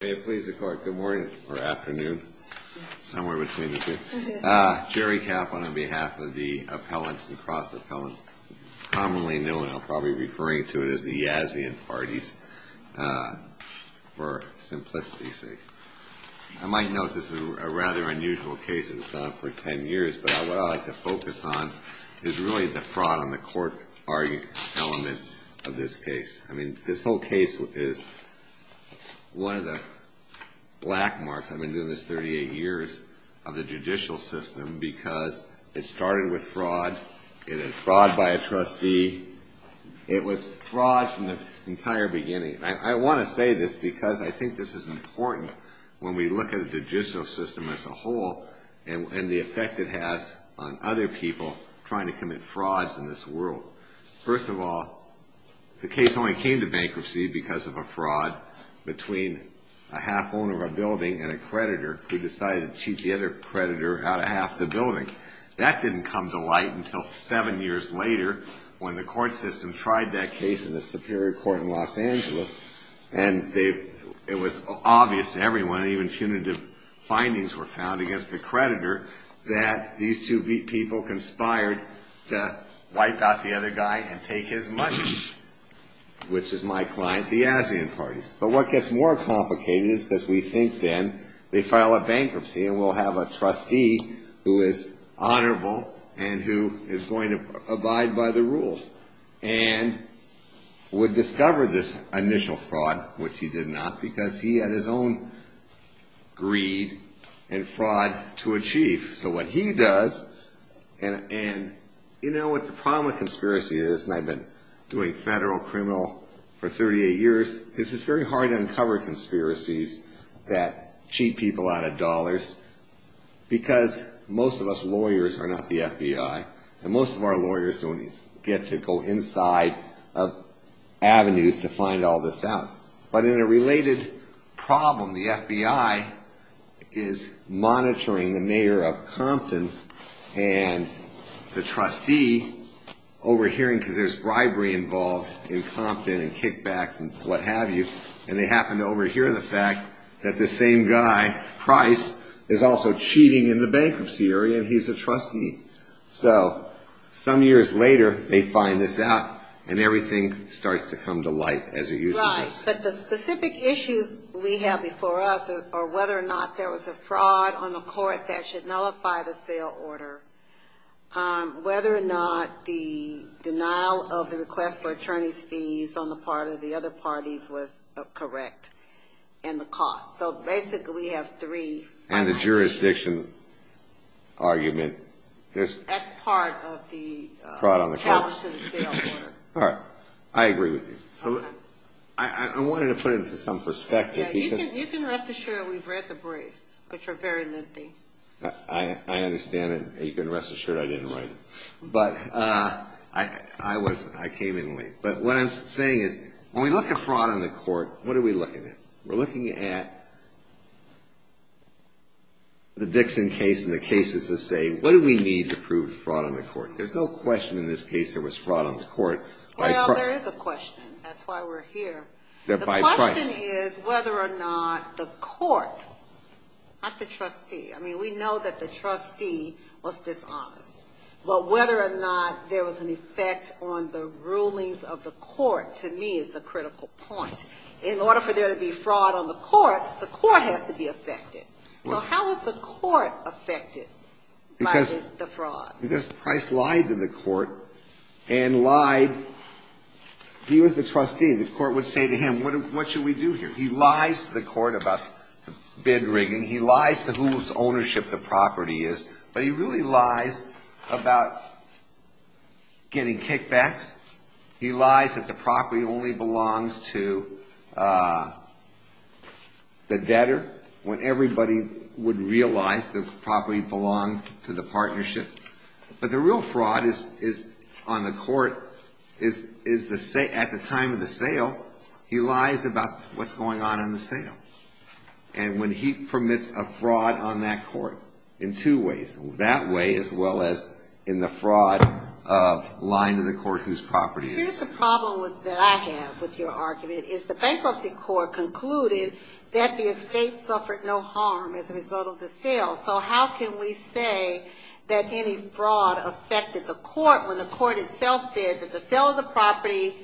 May it please the Court, good morning, or afternoon, somewhere between the two. Jerry Kaplan on behalf of the appellants and cross-appellants, commonly known, I'm probably referring to it as the Yazian parties, for simplicity's sake. I might note this is a rather unusual case, it's gone on for ten years, but what I'd like to focus on is really the fraud on the court argument element of this case. I mean, this whole case is one of the black marks. I've been doing this 38 years of the judicial system because it started with fraud, it had fraud by a trustee, it was fraud from the entire beginning. I want to say this because I think this is important when we look at the judicial system as a whole and the effect it has on other people trying to commit frauds in this world. First of all, the case only came to bankruptcy because of a fraud between a half-owner of a building and a creditor who decided to cheat the other creditor out of half the building. That didn't come to light until seven years later when the court system tried that case in the Superior Court in Los Angeles and it was obvious to everyone, even punitive findings were found against the creditor, that these two people conspired to wipe out the other guy and take his money, which is my client, the ASEAN parties. But what gets more complicated is because we think then they file a bankruptcy and we'll have a trustee who is honorable and who is going to abide by the rules and would discover this initial fraud, which he did not because he had his own greed and fraud to achieve. So what he does, and you know what the problem with conspiracy is, and I've been doing federal criminal for 38 years, this is very hard to uncover conspiracies that cheat people out of dollars because most of us lawyers are not the FBI and most of our lawyers don't get to go inside avenues to find all this out. But in a related problem, the FBI is monitoring the mayor of Compton and the trustee, overhearing because there's bribery involved in Compton and kickbacks and what have you, and they happen to overhear the fact that the same guy, Price, is also cheating in the bankruptcy area and he's a trustee. So some years later they find this out and everything starts to come to light as it usually does. Right, but the specific issues we have before us are whether or not there was a fraud on the court that should nullify the sale order, whether or not the denial of the request for attorney's fees on the part of the other parties was correct, and the cost. So basically we have three. And the jurisdiction argument. That's part of the challenge to the sale order. All right, I agree with you. So I wanted to put it into some perspective. Yeah, you can rest assured we've read the briefs, which are very lengthy. I understand it. You can rest assured I didn't write it. But I came in late. But what I'm saying is when we look at fraud on the court, what are we looking at? We're looking at the Dixon case and the cases that say what do we need to prove fraud on the court? There's no question in this case there was fraud on the court. Well, there is a question. That's why we're here. The question is whether or not the court, not the trustee. I mean, we know that the trustee was dishonest. But whether or not there was an effect on the rulings of the court, to me, is the critical point. In order for there to be fraud on the court, the court has to be affected. So how is the court affected by the fraud? Because Price lied to the court and lied. He was the trustee. The court would say to him, what should we do here? He lies to the court about the bid rigging. He lies to whose ownership the property is. But he really lies about getting kickbacks. He lies that the property only belongs to the debtor when everybody would realize the property belonged to the partnership. But the real fraud on the court is at the time of the sale. He lies about what's going on in the sale. And when he permits a fraud on that court in two ways, that way as well as in the fraud of lying to the court whose property it is. Here's the problem that I have with your argument is the bankruptcy court concluded that the estate suffered no harm as a result of the sale. So how can we say that any fraud affected the court when the court itself said that the sale of the property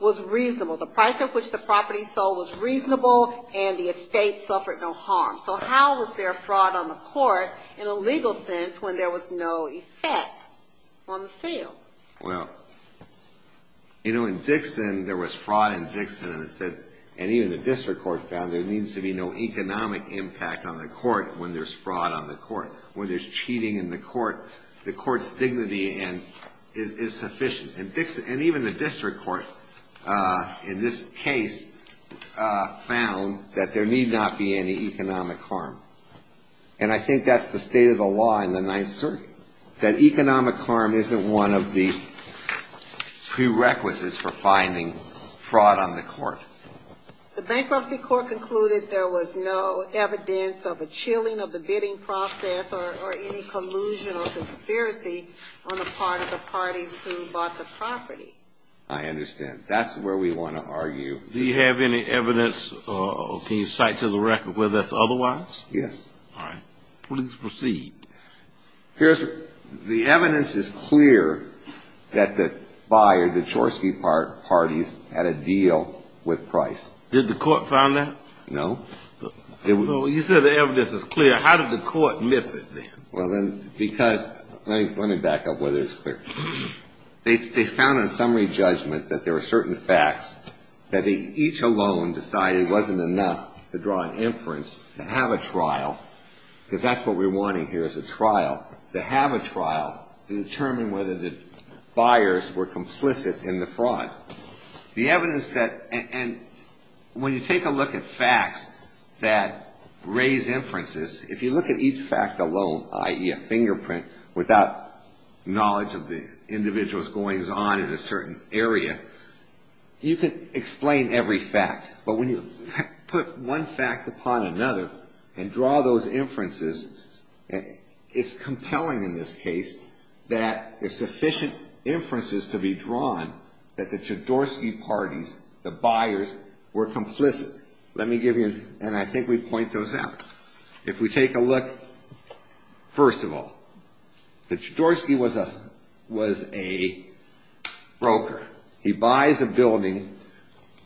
was reasonable? The price at which the property sold was reasonable and the estate suffered no harm. So how was there fraud on the court in a legal sense when there was no effect on the sale? Well, you know, in Dixon there was fraud in Dixon and even the district court found there needs to be no economic impact on the court when there's fraud on the court. When there's cheating in the court, the court's dignity is sufficient. And even the district court in this case found that there need not be any economic harm. And I think that's the state of the law in the Ninth Circuit, that economic harm isn't one of the prerequisites for finding fraud on the court. The bankruptcy court concluded there was no evidence of a chilling of the bidding process or any collusion or conspiracy on the part of the parties who bought the property. I understand. That's where we want to argue. Do you have any evidence or can you cite to the record whether that's otherwise? Yes. All right. Please proceed. Here's the evidence is clear that the buyer, the Chorsky parties, had a deal with Price. Did the court find that? No. So you said the evidence is clear. How did the court miss it then? Well, then, because let me back up whether it's clear. They found in summary judgment that there are certain facts that each alone decided it wasn't enough to draw an inference to have a trial, because that's what we're wanting here is a trial, to have a trial to determine whether the buyers were complicit in the fraud. The evidence that and when you take a look at facts that raise inferences, if you look at each fact alone, i.e. a fingerprint without knowledge of the individual's goings-on in a certain area, you can explain every fact. But when you put one fact upon another and draw those inferences, it's compelling in this case that there's sufficient inferences to be drawn that the Chorsky parties, the buyers, were complicit. Let me give you, and I think we point those out. If we take a look, first of all, that Chorsky was a broker. He buys a building.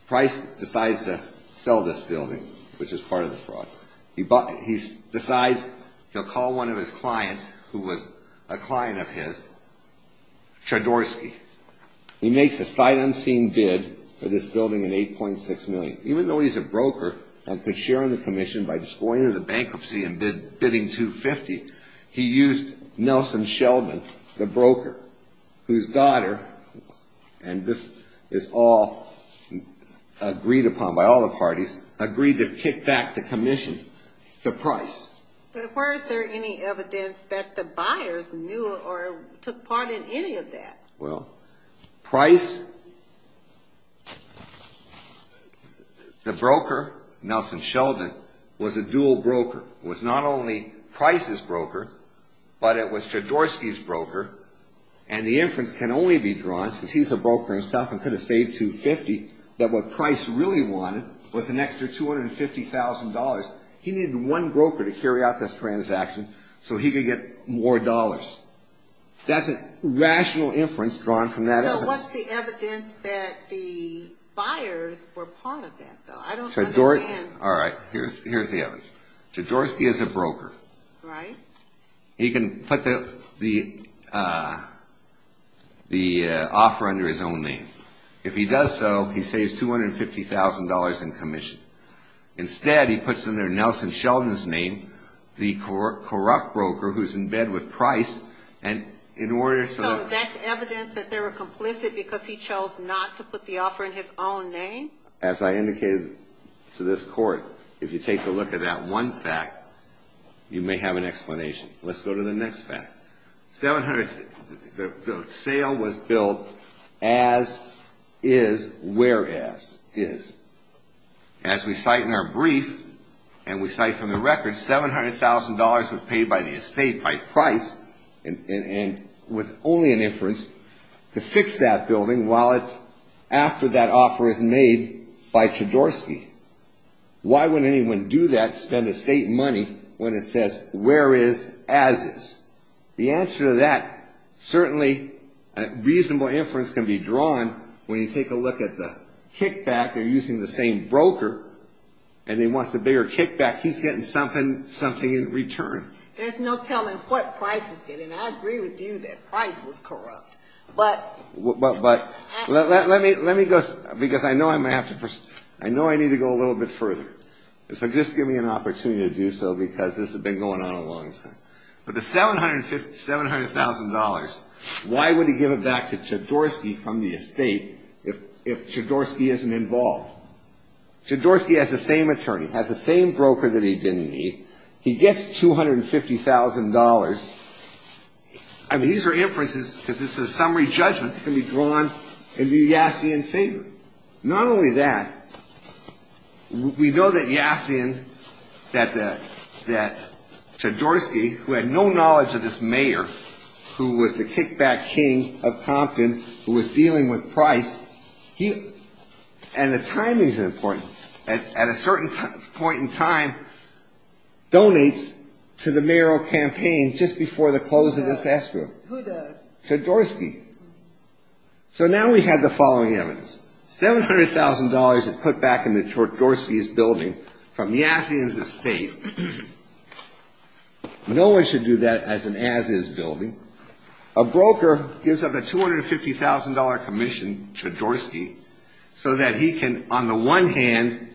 Price decides to sell this building, which is part of the fraud. He decides he'll call one of his clients, who was a client of his, Chorsky. He makes a sight unseen bid for this building at $8.6 million. Even though he's a broker and could share in the commission by just going into the bankruptcy and bidding $2.50, he used Nelson Sheldon, the broker, whose daughter, and this is all agreed upon by all the parties, agreed to kick back the commission to Price. But where is there any evidence that the buyers knew or took part in any of that? Well, Price, the broker, Nelson Sheldon, was a dual broker. It was not only Price's broker, but it was Chorsky's broker, and the inference can only be drawn, since he's a broker himself and could have saved $2.50, that what Price really wanted was an extra $250,000. He needed one broker to carry out this transaction so he could get more dollars. That's a rational inference drawn from that. So what's the evidence that the buyers were part of that, though? I don't understand. All right, here's the evidence. Chorsky is a broker. He can put the offer under his own name. If he does so, he saves $250,000 in commission. Instead, he puts under Nelson Sheldon's name the corrupt broker who's in bed with Price, and in order so... So that's evidence that they were complicit because he chose not to put the offer in his own name? As I indicated to this Court, if you take a look at that one fact, you may have an explanation. Let's go to the next fact. The sale was built as is, whereas is. As we cite in our brief, and we cite from the record, $700,000 was paid by the estate by Price, and with only an inference, to fix that building while it's... after that offer is made by Chorsky. Why would anyone do that, spend estate money, when it says, whereas as is? The answer to that, certainly a reasonable inference can be drawn when you take a look at the kickback. They're using the same broker, and he wants a bigger kickback. He's getting something in return. There's no telling what Price was getting. I agree with you that Price was corrupt. But let me go, because I know I may have to... I know I need to go a little bit further. So just give me an opportunity to do so, because this has been going on a long time. But the $700,000, why would he give it back to Chorsky from the estate, if Chorsky isn't involved? Chorsky has the same attorney, has the same broker that he didn't need. He gets $250,000. I mean, these are inferences, because it's a summary judgment that can be drawn in the Yassian favor. Not only that, we know that Yassian, that Chorsky, who had no knowledge of this mayor, who was the kickback king of Compton, who was dealing with Price, he... and the timing's important. At a certain point in time, donates to the mayoral campaign just before the close of the tax rule. Who does? Chorsky. So now we have the following evidence. $700,000 is put back into Chorsky's building from Yassian's estate. No one should do that as an as-is building. A broker gives up a $250,000 commission to Chorsky so that he can, on the one hand,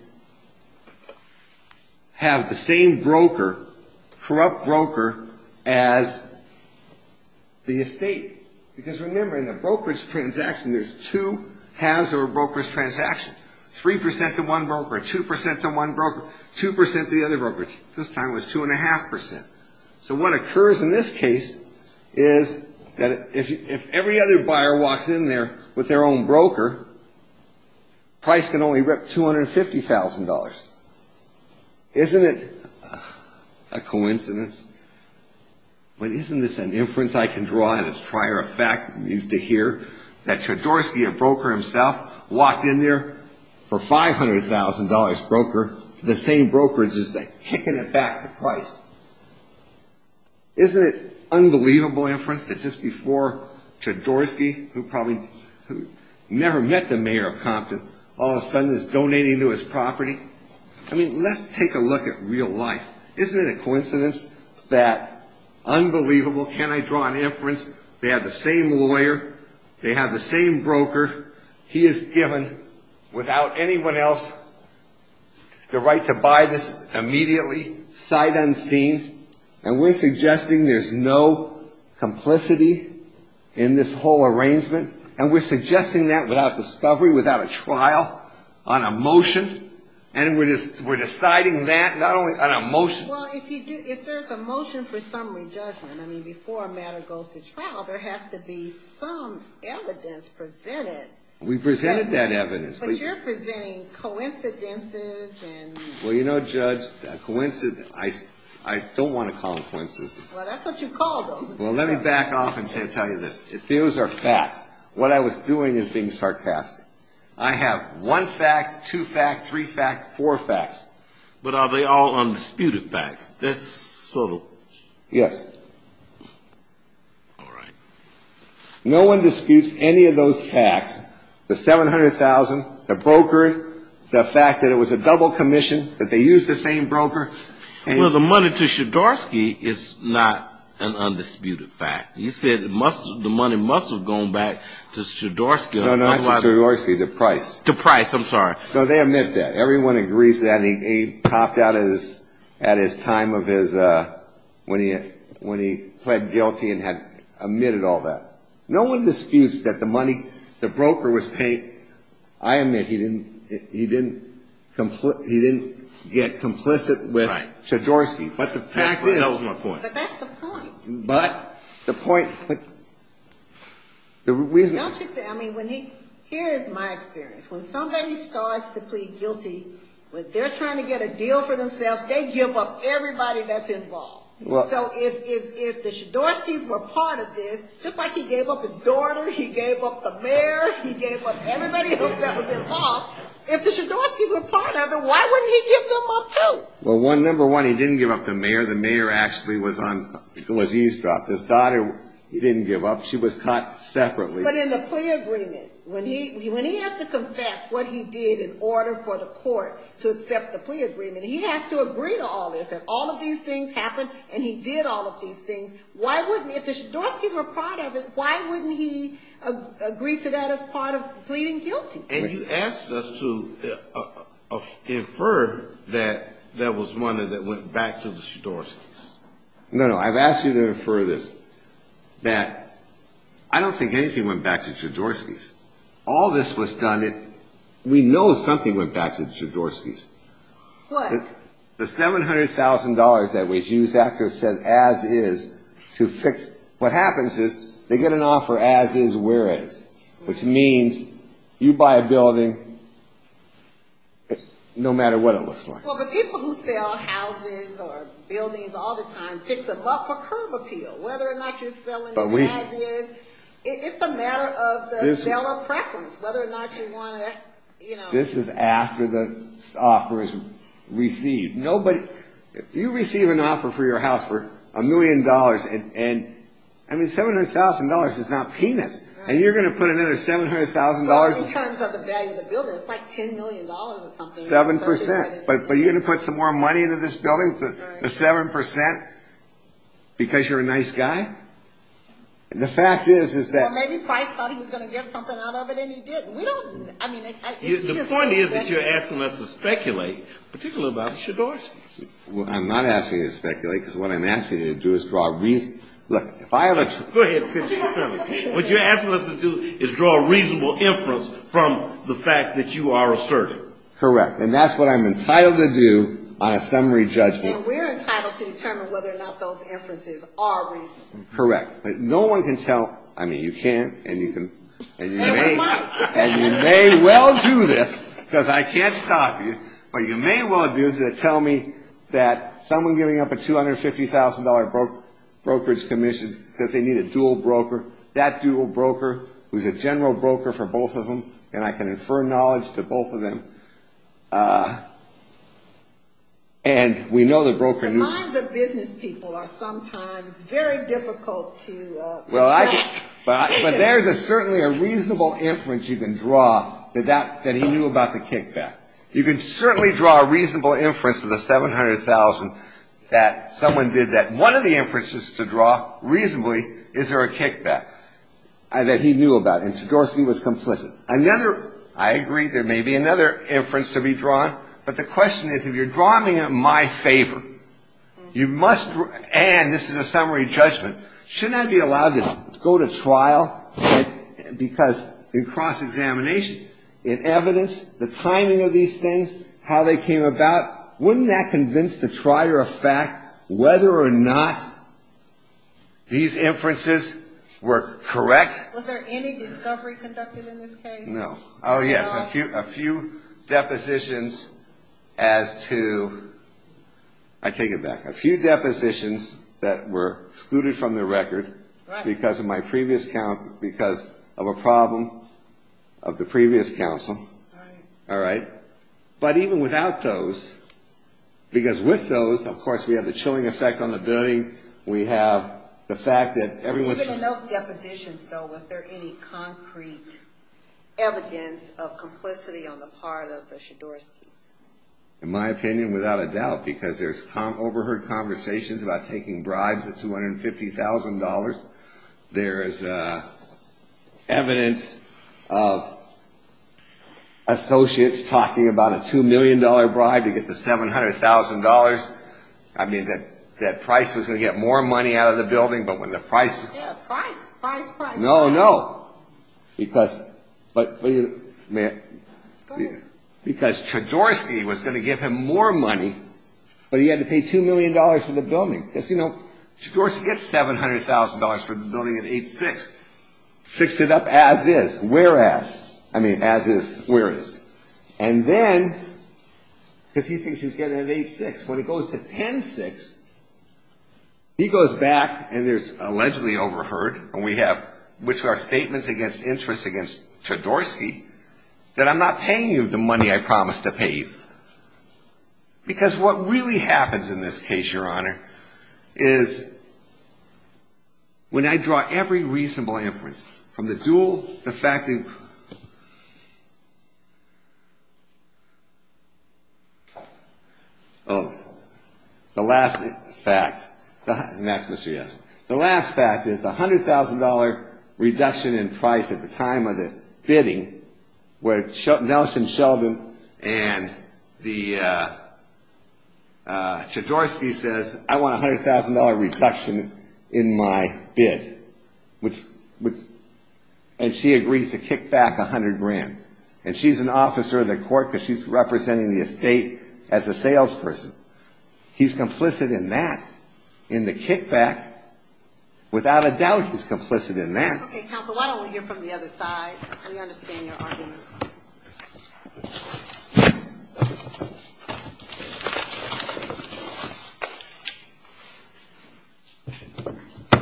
have the same broker, corrupt broker, as the estate. Because remember, in a brokerage transaction, there's two halves of a brokerage transaction. 3% to one broker, 2% to one broker, 2% to the other brokerage. This time it was 2.5%. So what occurs in this case is that if every other buyer walks in there with their own broker, Price can only rip $250,000. Isn't it a coincidence? But isn't this an inference I can draw in its prior effect, at least to hear, that Chorsky, a broker himself, walked in there for a $500,000 broker to the same brokerage that's kicking it back to Price? Isn't it an unbelievable inference that just before Chorsky, who probably never met the mayor of Compton, all of a sudden is donating to his property? I mean, let's take a look at real life. Isn't it a coincidence that, unbelievable, can I draw an inference, they have the same lawyer, they have the same broker, he is given, without anyone else, the right to buy this immediately, sight unseen, and we're suggesting there's no complicity in this whole arrangement, and we're suggesting that without discovery, without a trial, on a motion, and we're deciding that not only on a motion. Well, if there's a motion for summary judgment, I mean, before a matter goes to trial, there has to be some evidence presented. We presented that evidence. But you're presenting coincidences and... Well, you know, Judge, I don't want to call them coincidences. Well, that's what you call them. Well, let me back off and tell you this. If those are facts, what I was doing is being sarcastic. I have one fact, two facts, three facts, four facts. But are they all undisputed facts? That's sort of... Yes. All right. No one disputes any of those facts, the $700,000, the brokering, the fact that it was a double commission, that they used the same broker. Well, the money to Shedorsky is not an undisputed fact. You said the money must have gone back to Shedorsky. No, not to Shedorsky, to Price. To Price, I'm sorry. No, they admit that. Everyone agrees that. And he popped out at his time of his, when he pled guilty and had admitted all that. No one disputes that the money, the broker was paid. I admit he didn't get complicit with Shedorsky. Right. But the fact is... That's my point. But that's the point. But the point... Here is my experience. When somebody starts to plead guilty, when they're trying to get a deal for themselves, they give up everybody that's involved. So if the Shedorskys were part of this, just like he gave up his daughter, he gave up the mayor, he gave up everybody else that was involved, if the Shedorskys were part of it, why wouldn't he give them up too? Well, number one, he didn't give up the mayor. The mayor actually was eavesdropped. His daughter, he didn't give up. She was caught separately. But in the plea agreement, when he has to confess what he did in order for the court to accept the plea agreement, he has to agree to all this. If all of these things happened and he did all of these things, why wouldn't, if the Shedorskys were part of it, why wouldn't he agree to that as part of pleading guilty? And you asked us to infer that that was money that went back to the Shedorskys. No, no, I've asked you to infer this, that I don't think anything went back to the Shedorskys. All this was done, we know something went back to the Shedorskys. What? The $700,000 that was used after said, as is, to fix, what happens is they get an offer, as is, whereas, which means you buy a building, no matter what it looks like. Well, but people who sell houses or buildings all the time fix a buck for curb appeal. Whether or not you're selling the ad is, it's a matter of the seller preference, whether or not you want to, you know. This is after the offer is received. No, but you receive an offer for your house for a million dollars, and, I mean, $700,000 is not peanuts. And you're going to put another $700,000? Well, in terms of the value of the building, it's like $10 million or something. Seven percent. But you're going to put some more money into this building for the seven percent because you're a nice guy? The fact is, is that... Well, maybe Price thought he was going to get something out of it, and he didn't. We don't, I mean, it's just... The point is that you're asking us to speculate, particularly about the Shedorskys. Well, I'm not asking you to speculate, because what I'm asking you to do is draw... Look, if I... Go ahead. What you're asking us to do is draw a reasonable inference from the fact that you are asserting. Correct. And that's what I'm entitled to do on a summary judgment. And we're entitled to determine whether or not those inferences are reasonable. Correct. But no one can tell... I mean, you can't, and you can... And we might. And you may well do this, because I can't stop you, but you may well do this and tell me that someone giving up a $250,000 brokerage commission because they need a dual broker, that dual broker who's a general broker for both of them, and I can infer knowledge to both of them, and we know the broker... The minds of business people are sometimes very difficult to track. But there's certainly a reasonable inference you can draw that he knew about the kickback. You can certainly draw a reasonable inference of the $700,000 that someone did that. One of the inferences to draw reasonably is there a kickback that he knew about, and Shedorsky was complicit. Another... I agree there may be another inference to be drawn, but the question is, if you're drawing it in my favor, you must... and this is a summary judgment, shouldn't I be allowed to go to trial? Because in cross-examination, in evidence, the timing of these things, how they came about, wouldn't that convince the trier of fact whether or not these inferences were correct? Was there any discovery conducted in this case? No. Oh, yes. A few depositions as to... I take it back. A few depositions that were excluded from the record because of a problem of the previous counsel. All right. But even without those, because with those, of course, we have the chilling effect on the building. We have the fact that everyone... Even in those depositions, though, was there any concrete evidence of complicity on the part of the Shedorskys? In my opinion, without a doubt, because there's overheard conversations about taking bribes at $250,000. There is evidence of associates talking about a $2 million bribe to get the $700,000. I mean, that price was going to get more money out of the building, but when the price... Price, price, price. No, no. Because Shedorsky was going to give him more money, but he had to pay $2 million for the building. Because, you know, Shedorsky gets $700,000 for the building at 8-6. Fix it up as is, whereas. I mean, as is, whereas. And then, because he thinks he's getting it at 8-6, when it goes to 10-6, he goes back and there's allegedly overheard, and we have, which are statements against interest against Shedorsky, that I'm not paying you the money I promised to pay you. Because what really happens in this case, Your Honor, is when I draw every reasonable inference, from the dual, the fact that... Oh, the last fact, and that's Mr. Yasso. The last fact is the $100,000 reduction in price at the time of the bidding, where Nelson Sheldon and Shedorsky says, I want a $100,000 reduction in my bid. And she agrees to kick back 100 grand. And she's an officer of the court because she's representing the estate as a salesperson. He's complicit in that, in the kickback. Without a doubt, he's complicit in that. Okay, counsel, why don't we hear from the other side? We understand your argument.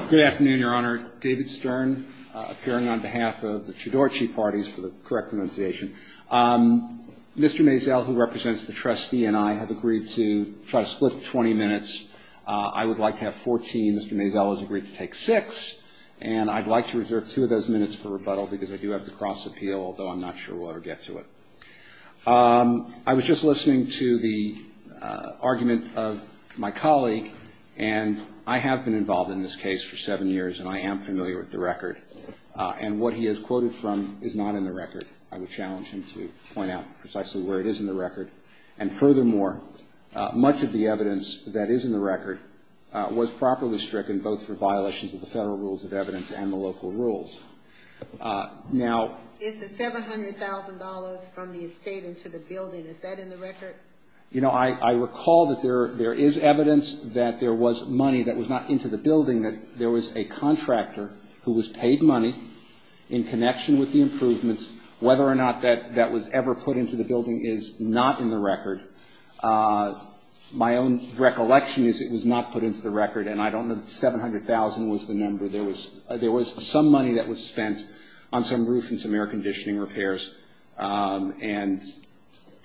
Good afternoon, Your Honor. David Stern, appearing on behalf of the Shedorsky parties, for the correct pronunciation. Mr. Mazel, who represents the trustee, and I have agreed to try to split the 20 minutes. I would like to have 14. Mr. Mazel has agreed to take six. And I'd like to reserve two of those minutes for rebuttal because I do have the cross appeal, although I'm not sure we'll ever get to it. I was just listening to the argument of my colleague, and I have been involved in this case for seven years, and I am familiar with the record. And what he has quoted from is not in the record. I would challenge him to point out precisely where it is in the record. And furthermore, much of the evidence that is in the record was properly stricken, both for violations of the federal rules of evidence and the local rules. Now — Is the $700,000 from the estate into the building, is that in the record? You know, I recall that there is evidence that there was money that was not into the building, that there was a contractor who was paid money in connection with the improvements. Whether or not that was ever put into the building is not in the record. My own recollection is it was not put into the record, and I don't know if $700,000 was the number. There was some money that was spent on some roof and some air conditioning repairs, and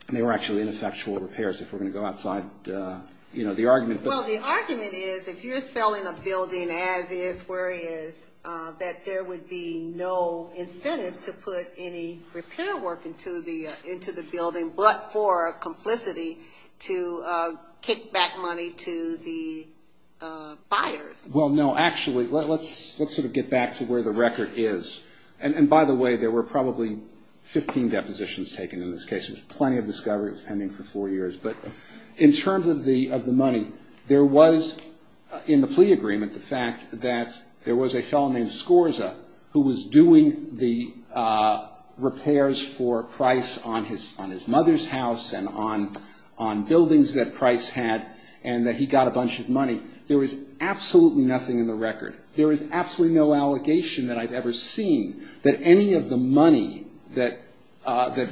they were actually ineffectual repairs, if we're going to go outside the argument. Well, the argument is, if you're selling a building as is, where it is, that there would be no incentive to put any repair work into the building but for complicity to kick back money to the buyers. Well, no. Actually, let's sort of get back to where the record is. And by the way, there were probably 15 depositions taken in this case. There's plenty of discovery. It was pending for four years. But in terms of the money, there was, in the plea agreement, the fact that there was a fellow named Scorza who was doing the repairs for Price on his mother's house and on buildings that Price had, and that he got a bunch of money. There was absolutely nothing in the record. There is absolutely no allegation that I've ever seen that any of the money that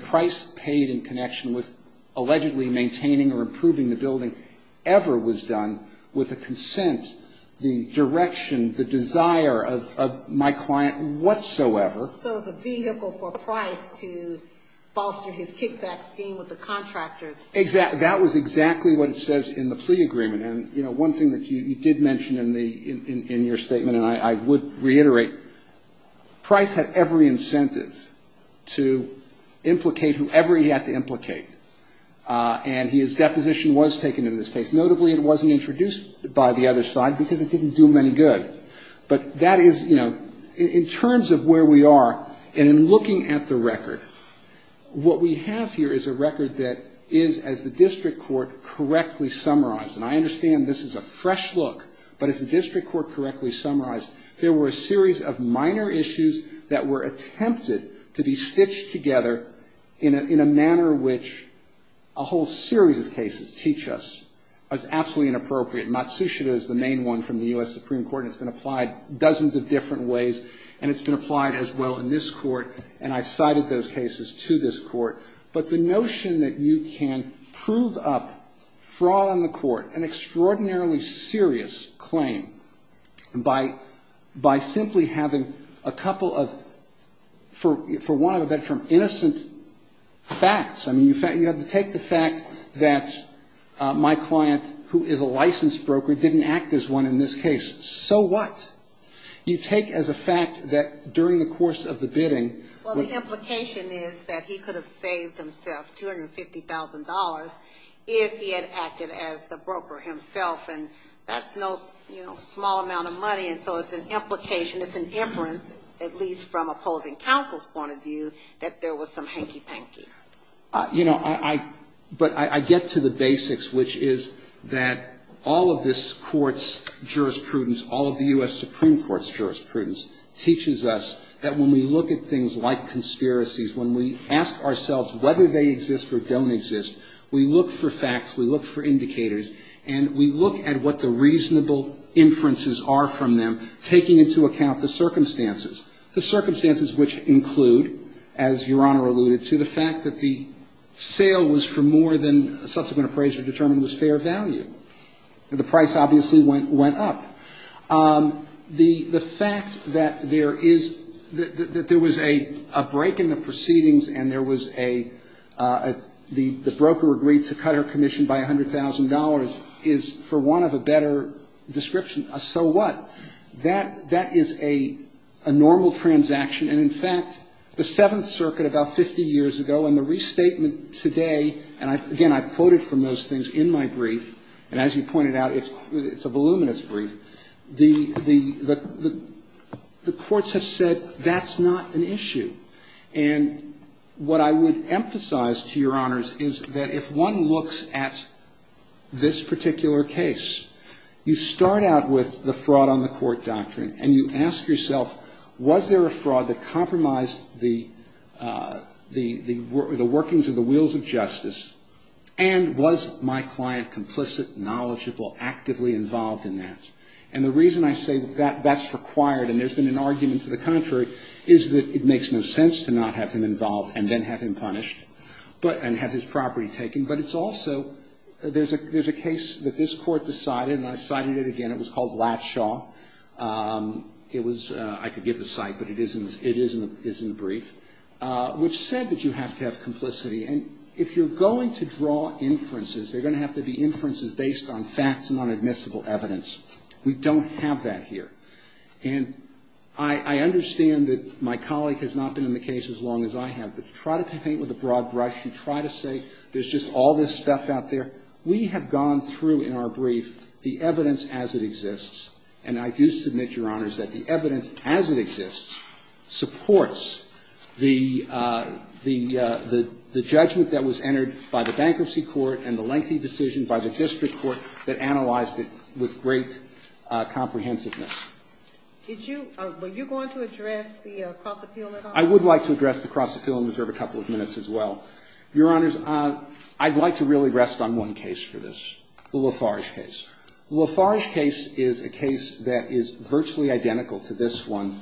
Price paid in connection with allegedly maintaining or improving the building ever was done with a consent, the direction, the desire of my client whatsoever. So it was a vehicle for Price to foster his kickback scheme with the contractors. That was exactly what it says in the plea agreement. And, you know, one thing that you did mention in your statement, and I would reiterate, Price had every incentive to implicate whoever he had to implicate. And his deposition was taken in this case. Notably, it wasn't introduced by the other side because it didn't do him any good. But that is, you know, in terms of where we are and in looking at the record, what we have here is a record that is, as the district court correctly summarized, and I understand this is a fresh look, but as the district court correctly summarized, there were a series of minor issues that were attempted to be stitched together in a manner which a whole series of cases teach us as absolutely inappropriate. Matsushita is the main one from the U.S. Supreme Court. It's been applied dozens of different ways, and it's been applied as well in this court, and I've cited those cases to this court. But the notion that you can prove up fraud on the court, an extraordinarily serious claim, by simply having a couple of, for want of a better term, innocent facts. I mean, you have to take the fact that my client, who is a licensed broker, didn't act as one in this case. So what? You take as a fact that during the course of the bidding — that he would have saved himself $250,000 if he had acted as the broker himself, and that's no small amount of money, and so it's an implication, it's an inference, at least from opposing counsel's point of view, that there was some hanky-panky. You know, I — but I get to the basics, which is that all of this court's jurisprudence, all of the U.S. Supreme Court's jurisprudence, teaches us that when we look at things like conspiracies, when we ask ourselves whether they exist or don't exist, we look for facts, we look for indicators, and we look at what the reasonable inferences are from them, taking into account the circumstances. The circumstances which include, as Your Honor alluded to, the fact that the sale was for more than a subsequent appraiser determined was fair value. The price obviously went up. The fact that there is — that there was a break in the proceedings and there was a — the broker agreed to cut her commission by $100,000 is, for want of a better description, a so what. That is a normal transaction, and in fact, the Seventh Circuit about 50 years ago and the restatement today, and again, I've quoted from those things in my brief, and as you pointed out, it's a voluminous brief. The courts have said that's not an issue. And what I would emphasize to Your Honors is that if one looks at this particular case, you start out with the fraud on the court doctrine and you ask yourself, was there fraud that compromised the workings of the wheels of justice? And was my client complicit, knowledgeable, actively involved in that? And the reason I say that that's required, and there's been an argument to the contrary, is that it makes no sense to not have him involved and then have him punished and have his property taken. But it's also — there's a case that this Court decided, and I cited it again. It was called Latshaw. It was — I could give the site, but it is in the brief, which said that you have to have complicity. And if you're going to draw inferences, they're going to have to be inferences based on facts and on admissible evidence. We don't have that here. And I understand that my colleague has not been in the case as long as I have, but you try to paint with a broad brush. You try to say there's just all this stuff out there. We have gone through in our brief the evidence as it exists. And I do submit, Your Honors, that the evidence as it exists supports the judgment that was entered by the bankruptcy court and the lengthy decision by the district court that analyzed it with great comprehensiveness. Did you — were you going to address the cross-appeal at all? I would like to address the cross-appeal and reserve a couple of minutes as well. Your Honors, I'd like to really rest on one case for this, the Lafarge case. The Lafarge case is a case that is virtually identical to this one.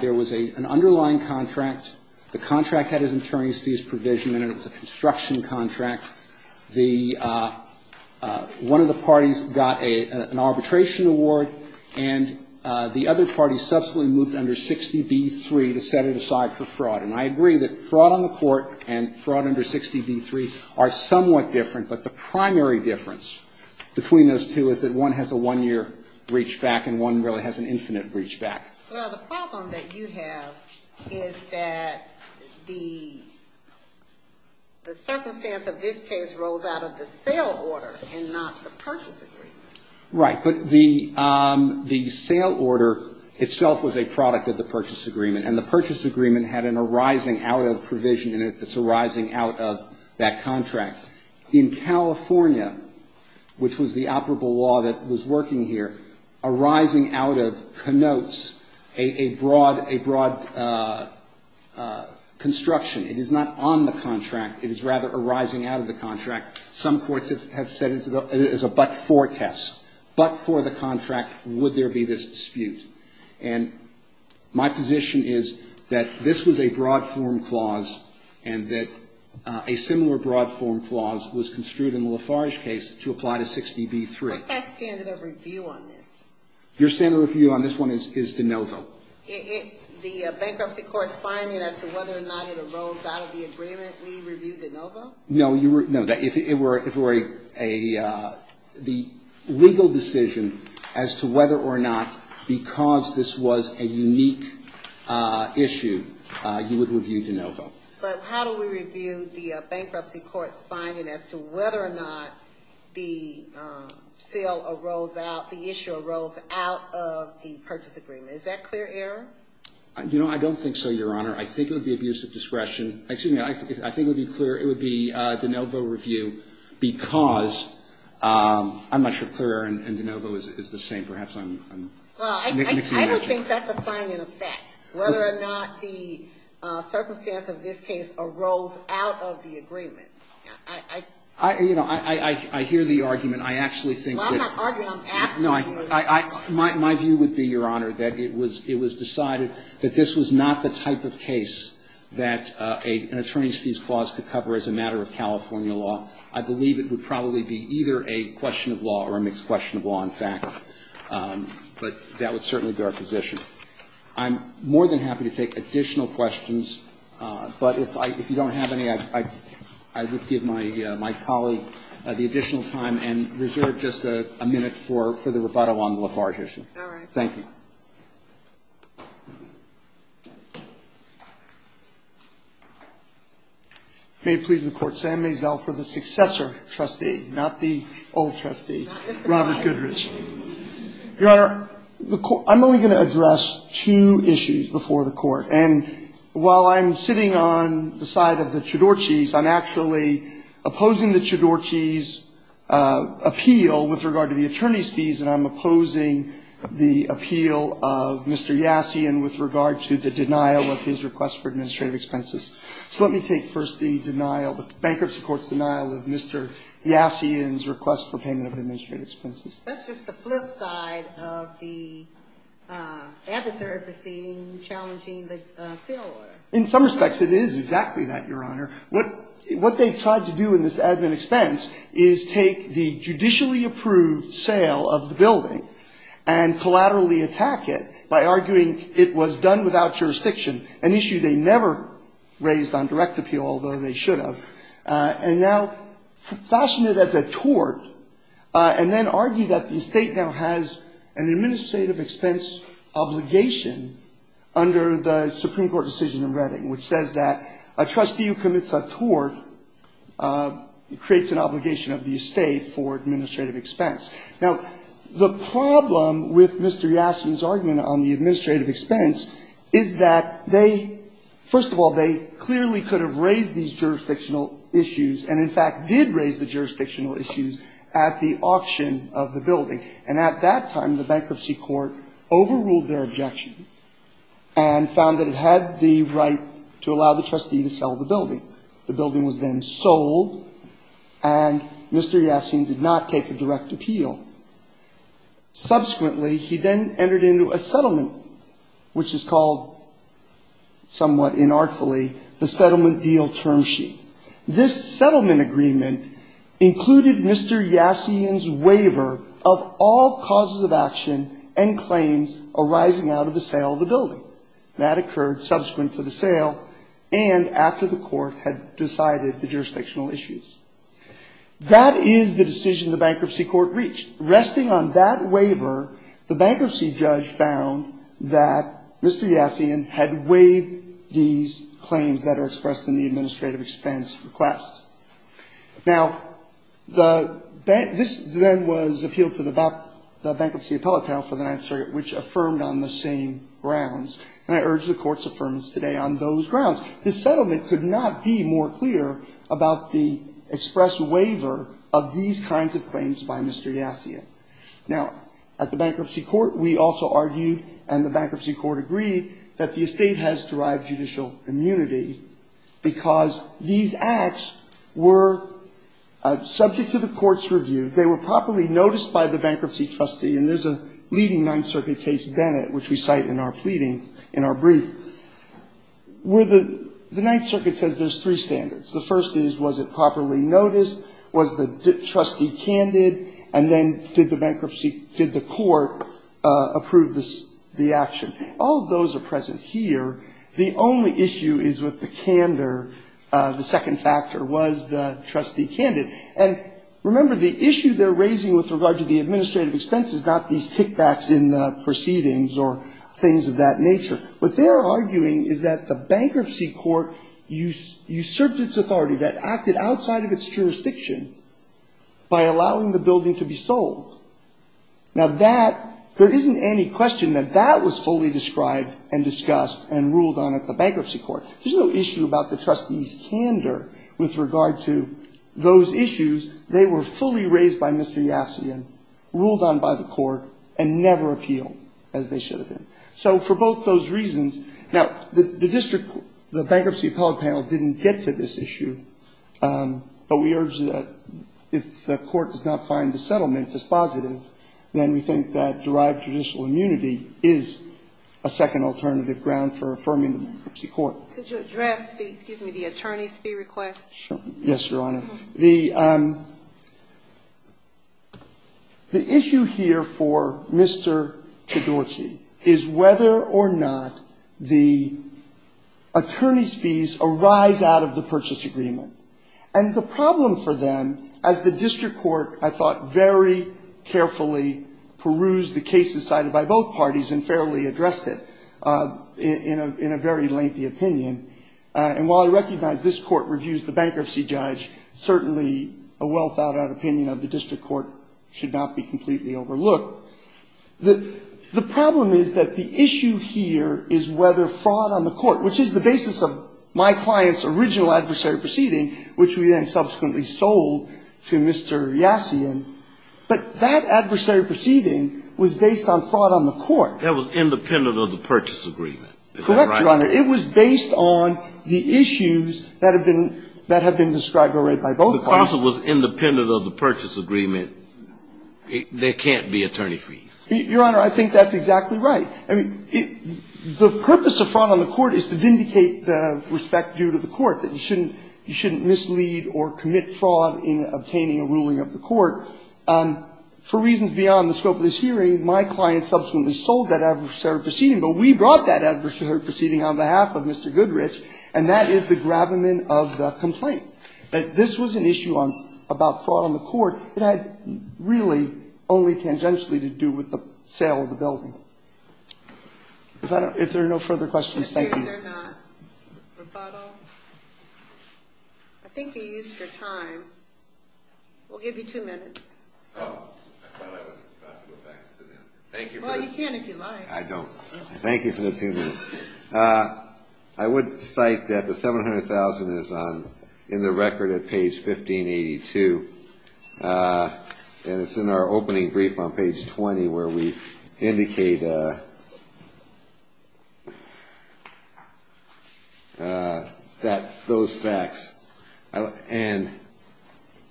There was an underlying contract. The contract had his attorney's fees provision in it. It was a construction contract. The — one of the parties got an arbitration award, and the other party subsequently moved under 60b-3 to set it aside for fraud. And I agree that fraud on the court and fraud under 60b-3 are somewhat different, but the primary difference between those two is that one has a one-year reachback and one really has an infinite reachback. Well, the problem that you have is that the circumstance of this case rose out of the sale order and not the purchase agreement. Right. But the sale order itself was a product of the purchase agreement, and the purchase agreement had an arising out of provision in it that's arising out of that contract. In California, which was the operable law that was working here, arising out of connotes a broad — a broad construction. It is not on the contract. It is rather arising out of the contract. Some courts have said it is a but-for test. But for the contract, would there be this dispute? And my position is that this was a broad-form clause and that a similar broad-form clause was construed in the Lafarge case to apply to 60b-3. What's that standard of review on this? Your standard of review on this one is de novo. The bankruptcy court's finding as to whether or not it arose out of the agreement, we review de novo? No. If it were a — the legal decision as to whether or not because this was a unique issue, you would review de novo. But how do we review the bankruptcy court's finding as to whether or not the sale arose out — the issue arose out of the purchase agreement? Is that clear error? You know, I don't think so, Your Honor. I think it would be abuse of discretion. Excuse me. I think it would be clear. It would be de novo review because — I'm not sure if clear error and de novo is the same. Perhaps I'm mixing it up. Well, I would think that's a finding of fact, whether or not the circumstance of this case arose out of the agreement. I — You know, I hear the argument. I actually think that — Well, I'm not arguing. I'm asking you. No, I — my view would be, Your Honor, that it was decided that this was not the type of case that an attorney's fees clause could cover as a matter of California law. I believe it would probably be either a question of law or a mixed question of law, in fact. But that would certainly be our position. I'm more than happy to take additional questions. But if I — if you don't have any, I would give my colleague the additional time and reserve just a minute for the rebuttal on the Lafarge issue. All right. Thank you. May it please the Court. Sam Maisel for the successor trustee, not the old trustee. Robert Goodrich. Your Honor, the — I'm only going to address two issues before the Court. And while I'm sitting on the side of the Chiodorchis, I'm actually opposing the Chiodorchis' appeal with regard to the attorney's fees, and I'm opposing the appeal of Mr. Yassian with regard to the denial of his request for administrative expenses. So let me take first the denial, the bankruptcy court's denial of Mr. Yassian's request for payment of administrative expenses. That's just the flip side of the adversary proceeding challenging the sale order. In some respects, it is exactly that, Your Honor. What they've tried to do in this admin expense is take the judicially approved sale of the building and collaterally attack it by arguing it was done without jurisdiction, an issue they never raised on direct appeal, although they should have, and now fashion it as a tort, and then argue that the estate now has an administrative expense obligation under the Supreme Court decision in Redding, which says that a trustee who commits a tort creates an obligation of the estate for administrative expense. Now, the problem with Mr. Yassian's argument on the administrative expense is that they, first of all, they clearly could have raised these jurisdictional issues, and in fact did raise the jurisdictional issues at the auction of the building. And at that time, the bankruptcy court overruled their objections and found that it had the right to allow the trustee to sell the building. The building was then sold, and Mr. Yassian did not take a direct appeal. Subsequently, he then entered into a settlement, which is called somewhat inartfully the settlement deal term sheet. This settlement agreement included Mr. Yassian's waiver of all causes of action subsequent to the sale, and after the court had decided the jurisdictional issues. That is the decision the bankruptcy court reached. Resting on that waiver, the bankruptcy judge found that Mr. Yassian had waived these claims that are expressed in the administrative expense request. Now, this then was appealed to the bankruptcy appellate panel for the Ninth Circuit, which affirmed on the same grounds. And I urge the Court's affirmance today on those grounds. This settlement could not be more clear about the express waiver of these kinds of claims by Mr. Yassian. Now, at the bankruptcy court, we also argued, and the bankruptcy court agreed, that the estate has derived judicial immunity because these acts were subject to the court's review. They were properly noticed by the bankruptcy trustee. And there's a leading Ninth Circuit case, Bennett, which we cite in our pleading in our brief, where the Ninth Circuit says there's three standards. The first is, was it properly noticed? Was the trustee candid? And then did the bankruptcy, did the court approve the action? All of those are present here. The only issue is with the candor. The second factor was the trustee candid. And remember, the issue they're raising with regard to the administrative expense is not these kickbacks in proceedings or things of that nature. What they're arguing is that the bankruptcy court usurped its authority, that acted outside of its jurisdiction, by allowing the building to be sold. Now, that, there isn't any question that that was fully described and discussed and ruled on at the bankruptcy court. There's no issue about the trustee's candor with regard to those issues. They were fully raised by Mr. Yassian, ruled on by the court, and never appealed, as they should have been. So for both those reasons, now, the district, the Bankruptcy Appellate Panel didn't get to this issue, but we urge that if the court does not find the settlement dispositive, then we think that derived judicial immunity is a second alternative ground for affirming the bankruptcy court. Could you address the, excuse me, the attorney's fee request? Yes, Your Honor. The issue here for Mr. Chodorsky is whether or not the attorney's fees arise out of the purchase agreement. And the problem for them, as the district court, I thought, very carefully perused the cases cited by both parties and fairly addressed it in a very lengthy opinion. And while I recognize this Court reviews the bankruptcy judge, certainly a well-thought-out opinion of the district court should not be completely overlooked. The problem is that the issue here is whether fraud on the court, which is the basis of my client's original adversary proceeding, which we then subsequently sold to Mr. Yassian, but that adversary proceeding was based on fraud on the court. That was independent of the purchase agreement. Is that right? Correct, Your Honor. It was based on the issues that have been described already by both parties. If the parcel was independent of the purchase agreement, there can't be attorney fees. Your Honor, I think that's exactly right. I mean, the purpose of fraud on the court is to vindicate the respect due to the court, that you shouldn't mislead or commit fraud in obtaining a ruling of the court. For reasons beyond the scope of this hearing, my client subsequently sold that adversary proceeding, but we brought that adversary proceeding on behalf of Mr. Goodrich, and that is the gravamen of the complaint. This was an issue about fraud on the court. It had really only tangentially to do with the sale of the building. If there are no further questions, thank you. I think they used your time. We'll give you two minutes. Oh, I thought I was about to go back and sit down. Thank you. Well, you can if you like. I don't. Thank you for the two minutes. I would cite that the $700,000 is in the record at page 1582, and it's in our opening brief on page 20 where we indicate that those facts, and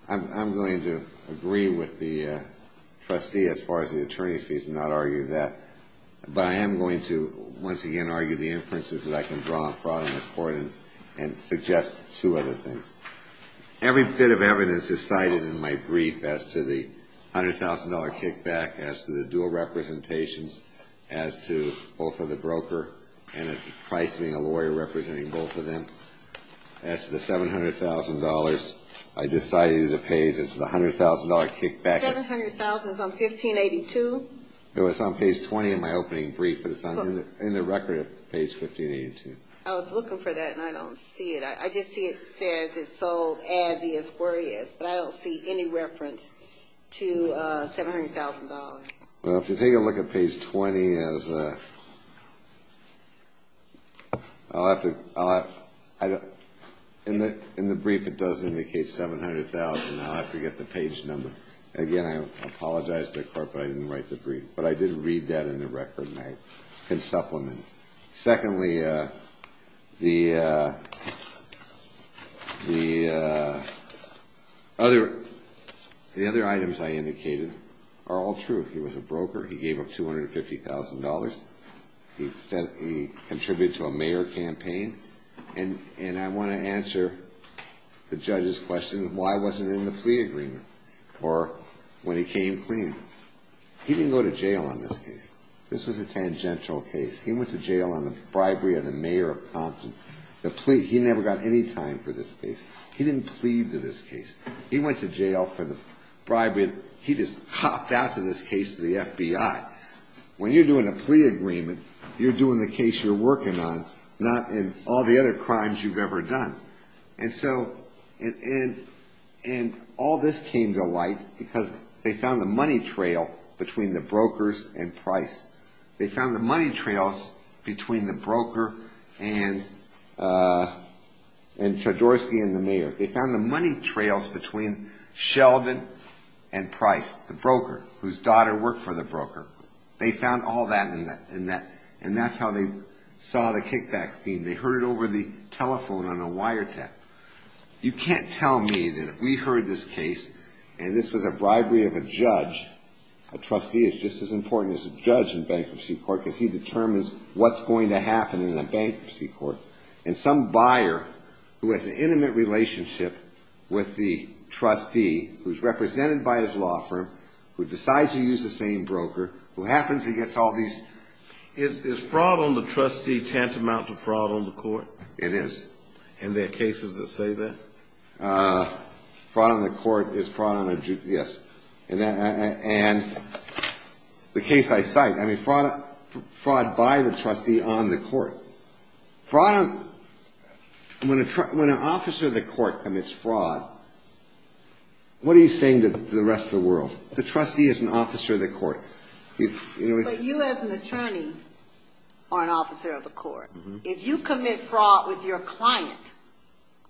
I'm going to agree with the trustee as far as the attorney's fees and not argue that, but I am going to once again argue the inferences that I can draw on fraud on the court and suggest two other things. Every bit of evidence is cited in my brief as to the $100,000 kickback, as to the dual representations, as to both of the broker and as to Price being a lawyer representing both of them. As to the $700,000, I just cited it as a page as to the $100,000 kickback. $700,000 is on 1582? It was on page 20 in my opening brief, but it's in the record at page 1582. I was looking for that, and I don't see it. I just see it says it's sold as is, where it is, but I don't see any reference to $700,000. Well, if you take a look at page 20, in the brief it does indicate $700,000. I'll have to get the page number. Again, I apologize to the court, but I didn't write the brief. But I did read that in the record, and I can supplement. Secondly, the other items I indicated are all true. He was a broker. He gave up $250,000. He contributed to a mayor campaign, and I want to answer the judge's question, why wasn't it in the plea agreement, or when he came clean? He didn't go to jail on this case. This was a tangential case. He went to jail on the bribery of the mayor of Compton. He never got any time for this case. He didn't plead to this case. He went to jail for the bribery. He just copped out to this case to the FBI. When you're doing a plea agreement, you're doing the case you're working on, not in all the other crimes you've ever done. And all this came to light because they found the money trail between the brokers and Price. They found the money trails between the broker and Trzodorski and the mayor. They found the money trails between Sheldon and Price, the broker, whose daughter worked for the broker. They found all that in that, and that's how they saw the kickback theme. They heard it over the telephone on a wiretap. You can't tell me that if we heard this case, and this was a bribery of a judge, a trustee is just as important as a judge in bankruptcy court because he determines what's going to happen in a bankruptcy court. And some buyer who has an intimate relationship with the trustee, who's represented by his law firm, who decides to use the same broker, who happens to get all these. Is fraud on the trustee tantamount to fraud on the court? It is. And there are cases that say that? Fraud on the court is fraud on a judge, yes. And the case I cite, I mean, fraud by the trustee on the court. When an officer of the court commits fraud, what are you saying to the rest of the world? The trustee is an officer of the court. But you as an attorney are an officer of the court. If you commit fraud with your client,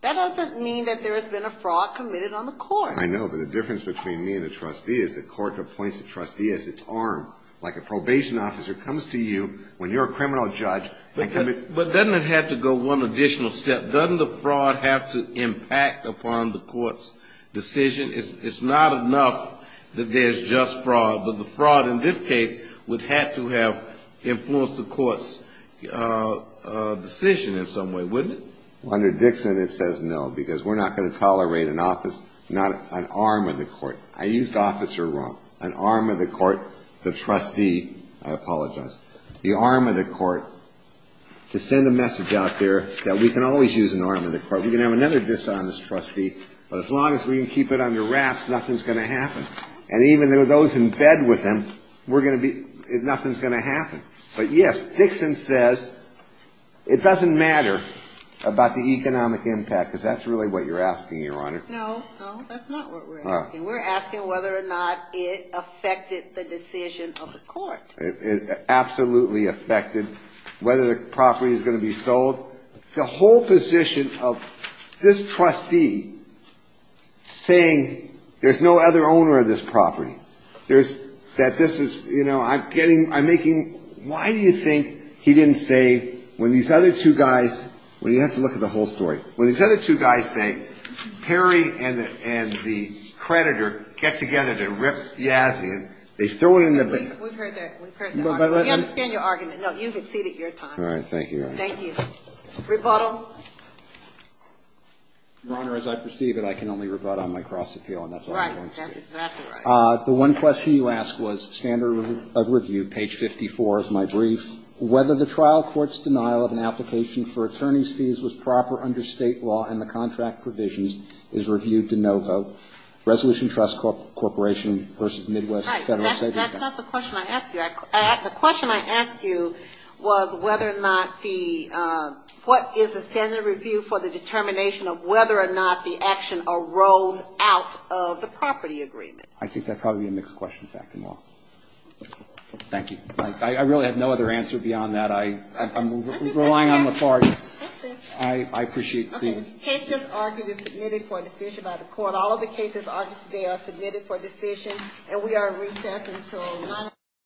that doesn't mean that there has been a fraud committed on the court. I know, but the difference between me and the trustee is the court appoints the trustee as its arm, like a probation officer comes to you when you're a criminal judge and commits fraud. But doesn't it have to go one additional step? Doesn't the fraud have to impact upon the court's decision? It's not enough that there's just fraud, but the fraud in this case would have to have influenced the court's decision in some way, wouldn't it? Under Dixon it says no, because we're not going to tolerate an arm of the court. I used officer wrong. An arm of the court, the trustee, I apologize. The arm of the court, to send a message out there that we can always use an arm of the court. We can have another dishonest trustee, but as long as we can keep it under wraps, nothing's going to happen. And even those in bed with him, we're going to be, nothing's going to happen. But, yes, Dixon says it doesn't matter about the economic impact, because that's really what you're asking, Your Honor. No, no, that's not what we're asking. We're asking whether or not it affected the decision of the court. It absolutely affected whether the property is going to be sold. The whole position of this trustee saying there's no other owner of this property, there's, that this is, you know, I'm getting, I'm making, why do you think he didn't say when these other two guys, well, you have to look at the whole story. When these other two guys say Perry and the creditor get together to rip Yazian, they throw it in the bin. We've heard that. We understand your argument. No, you've exceeded your time. All right. Thank you, Your Honor. Thank you. Rebuttal. Your Honor, as I perceive it, I can only rebut on my cross appeal, and that's all I'm going to do. That's exactly right. The one question you asked was standard of review, page 54 of my brief. Whether the trial court's denial of an application for attorney's fees was proper under State law and the contract provisions is reviewed to no vote. Resolution Trust Corporation versus Midwest Federal. That's not the question I asked you. The question I asked you was whether or not the, what is the standard of review for the determination of whether or not the action arose out of the property agreement. I think that's probably a mixed question, in fact, in law. Thank you. I really have no other answer beyond that. I'm relying on Lafarge. I see. I appreciate the... Okay. The case just argued is submitted for a decision by the court.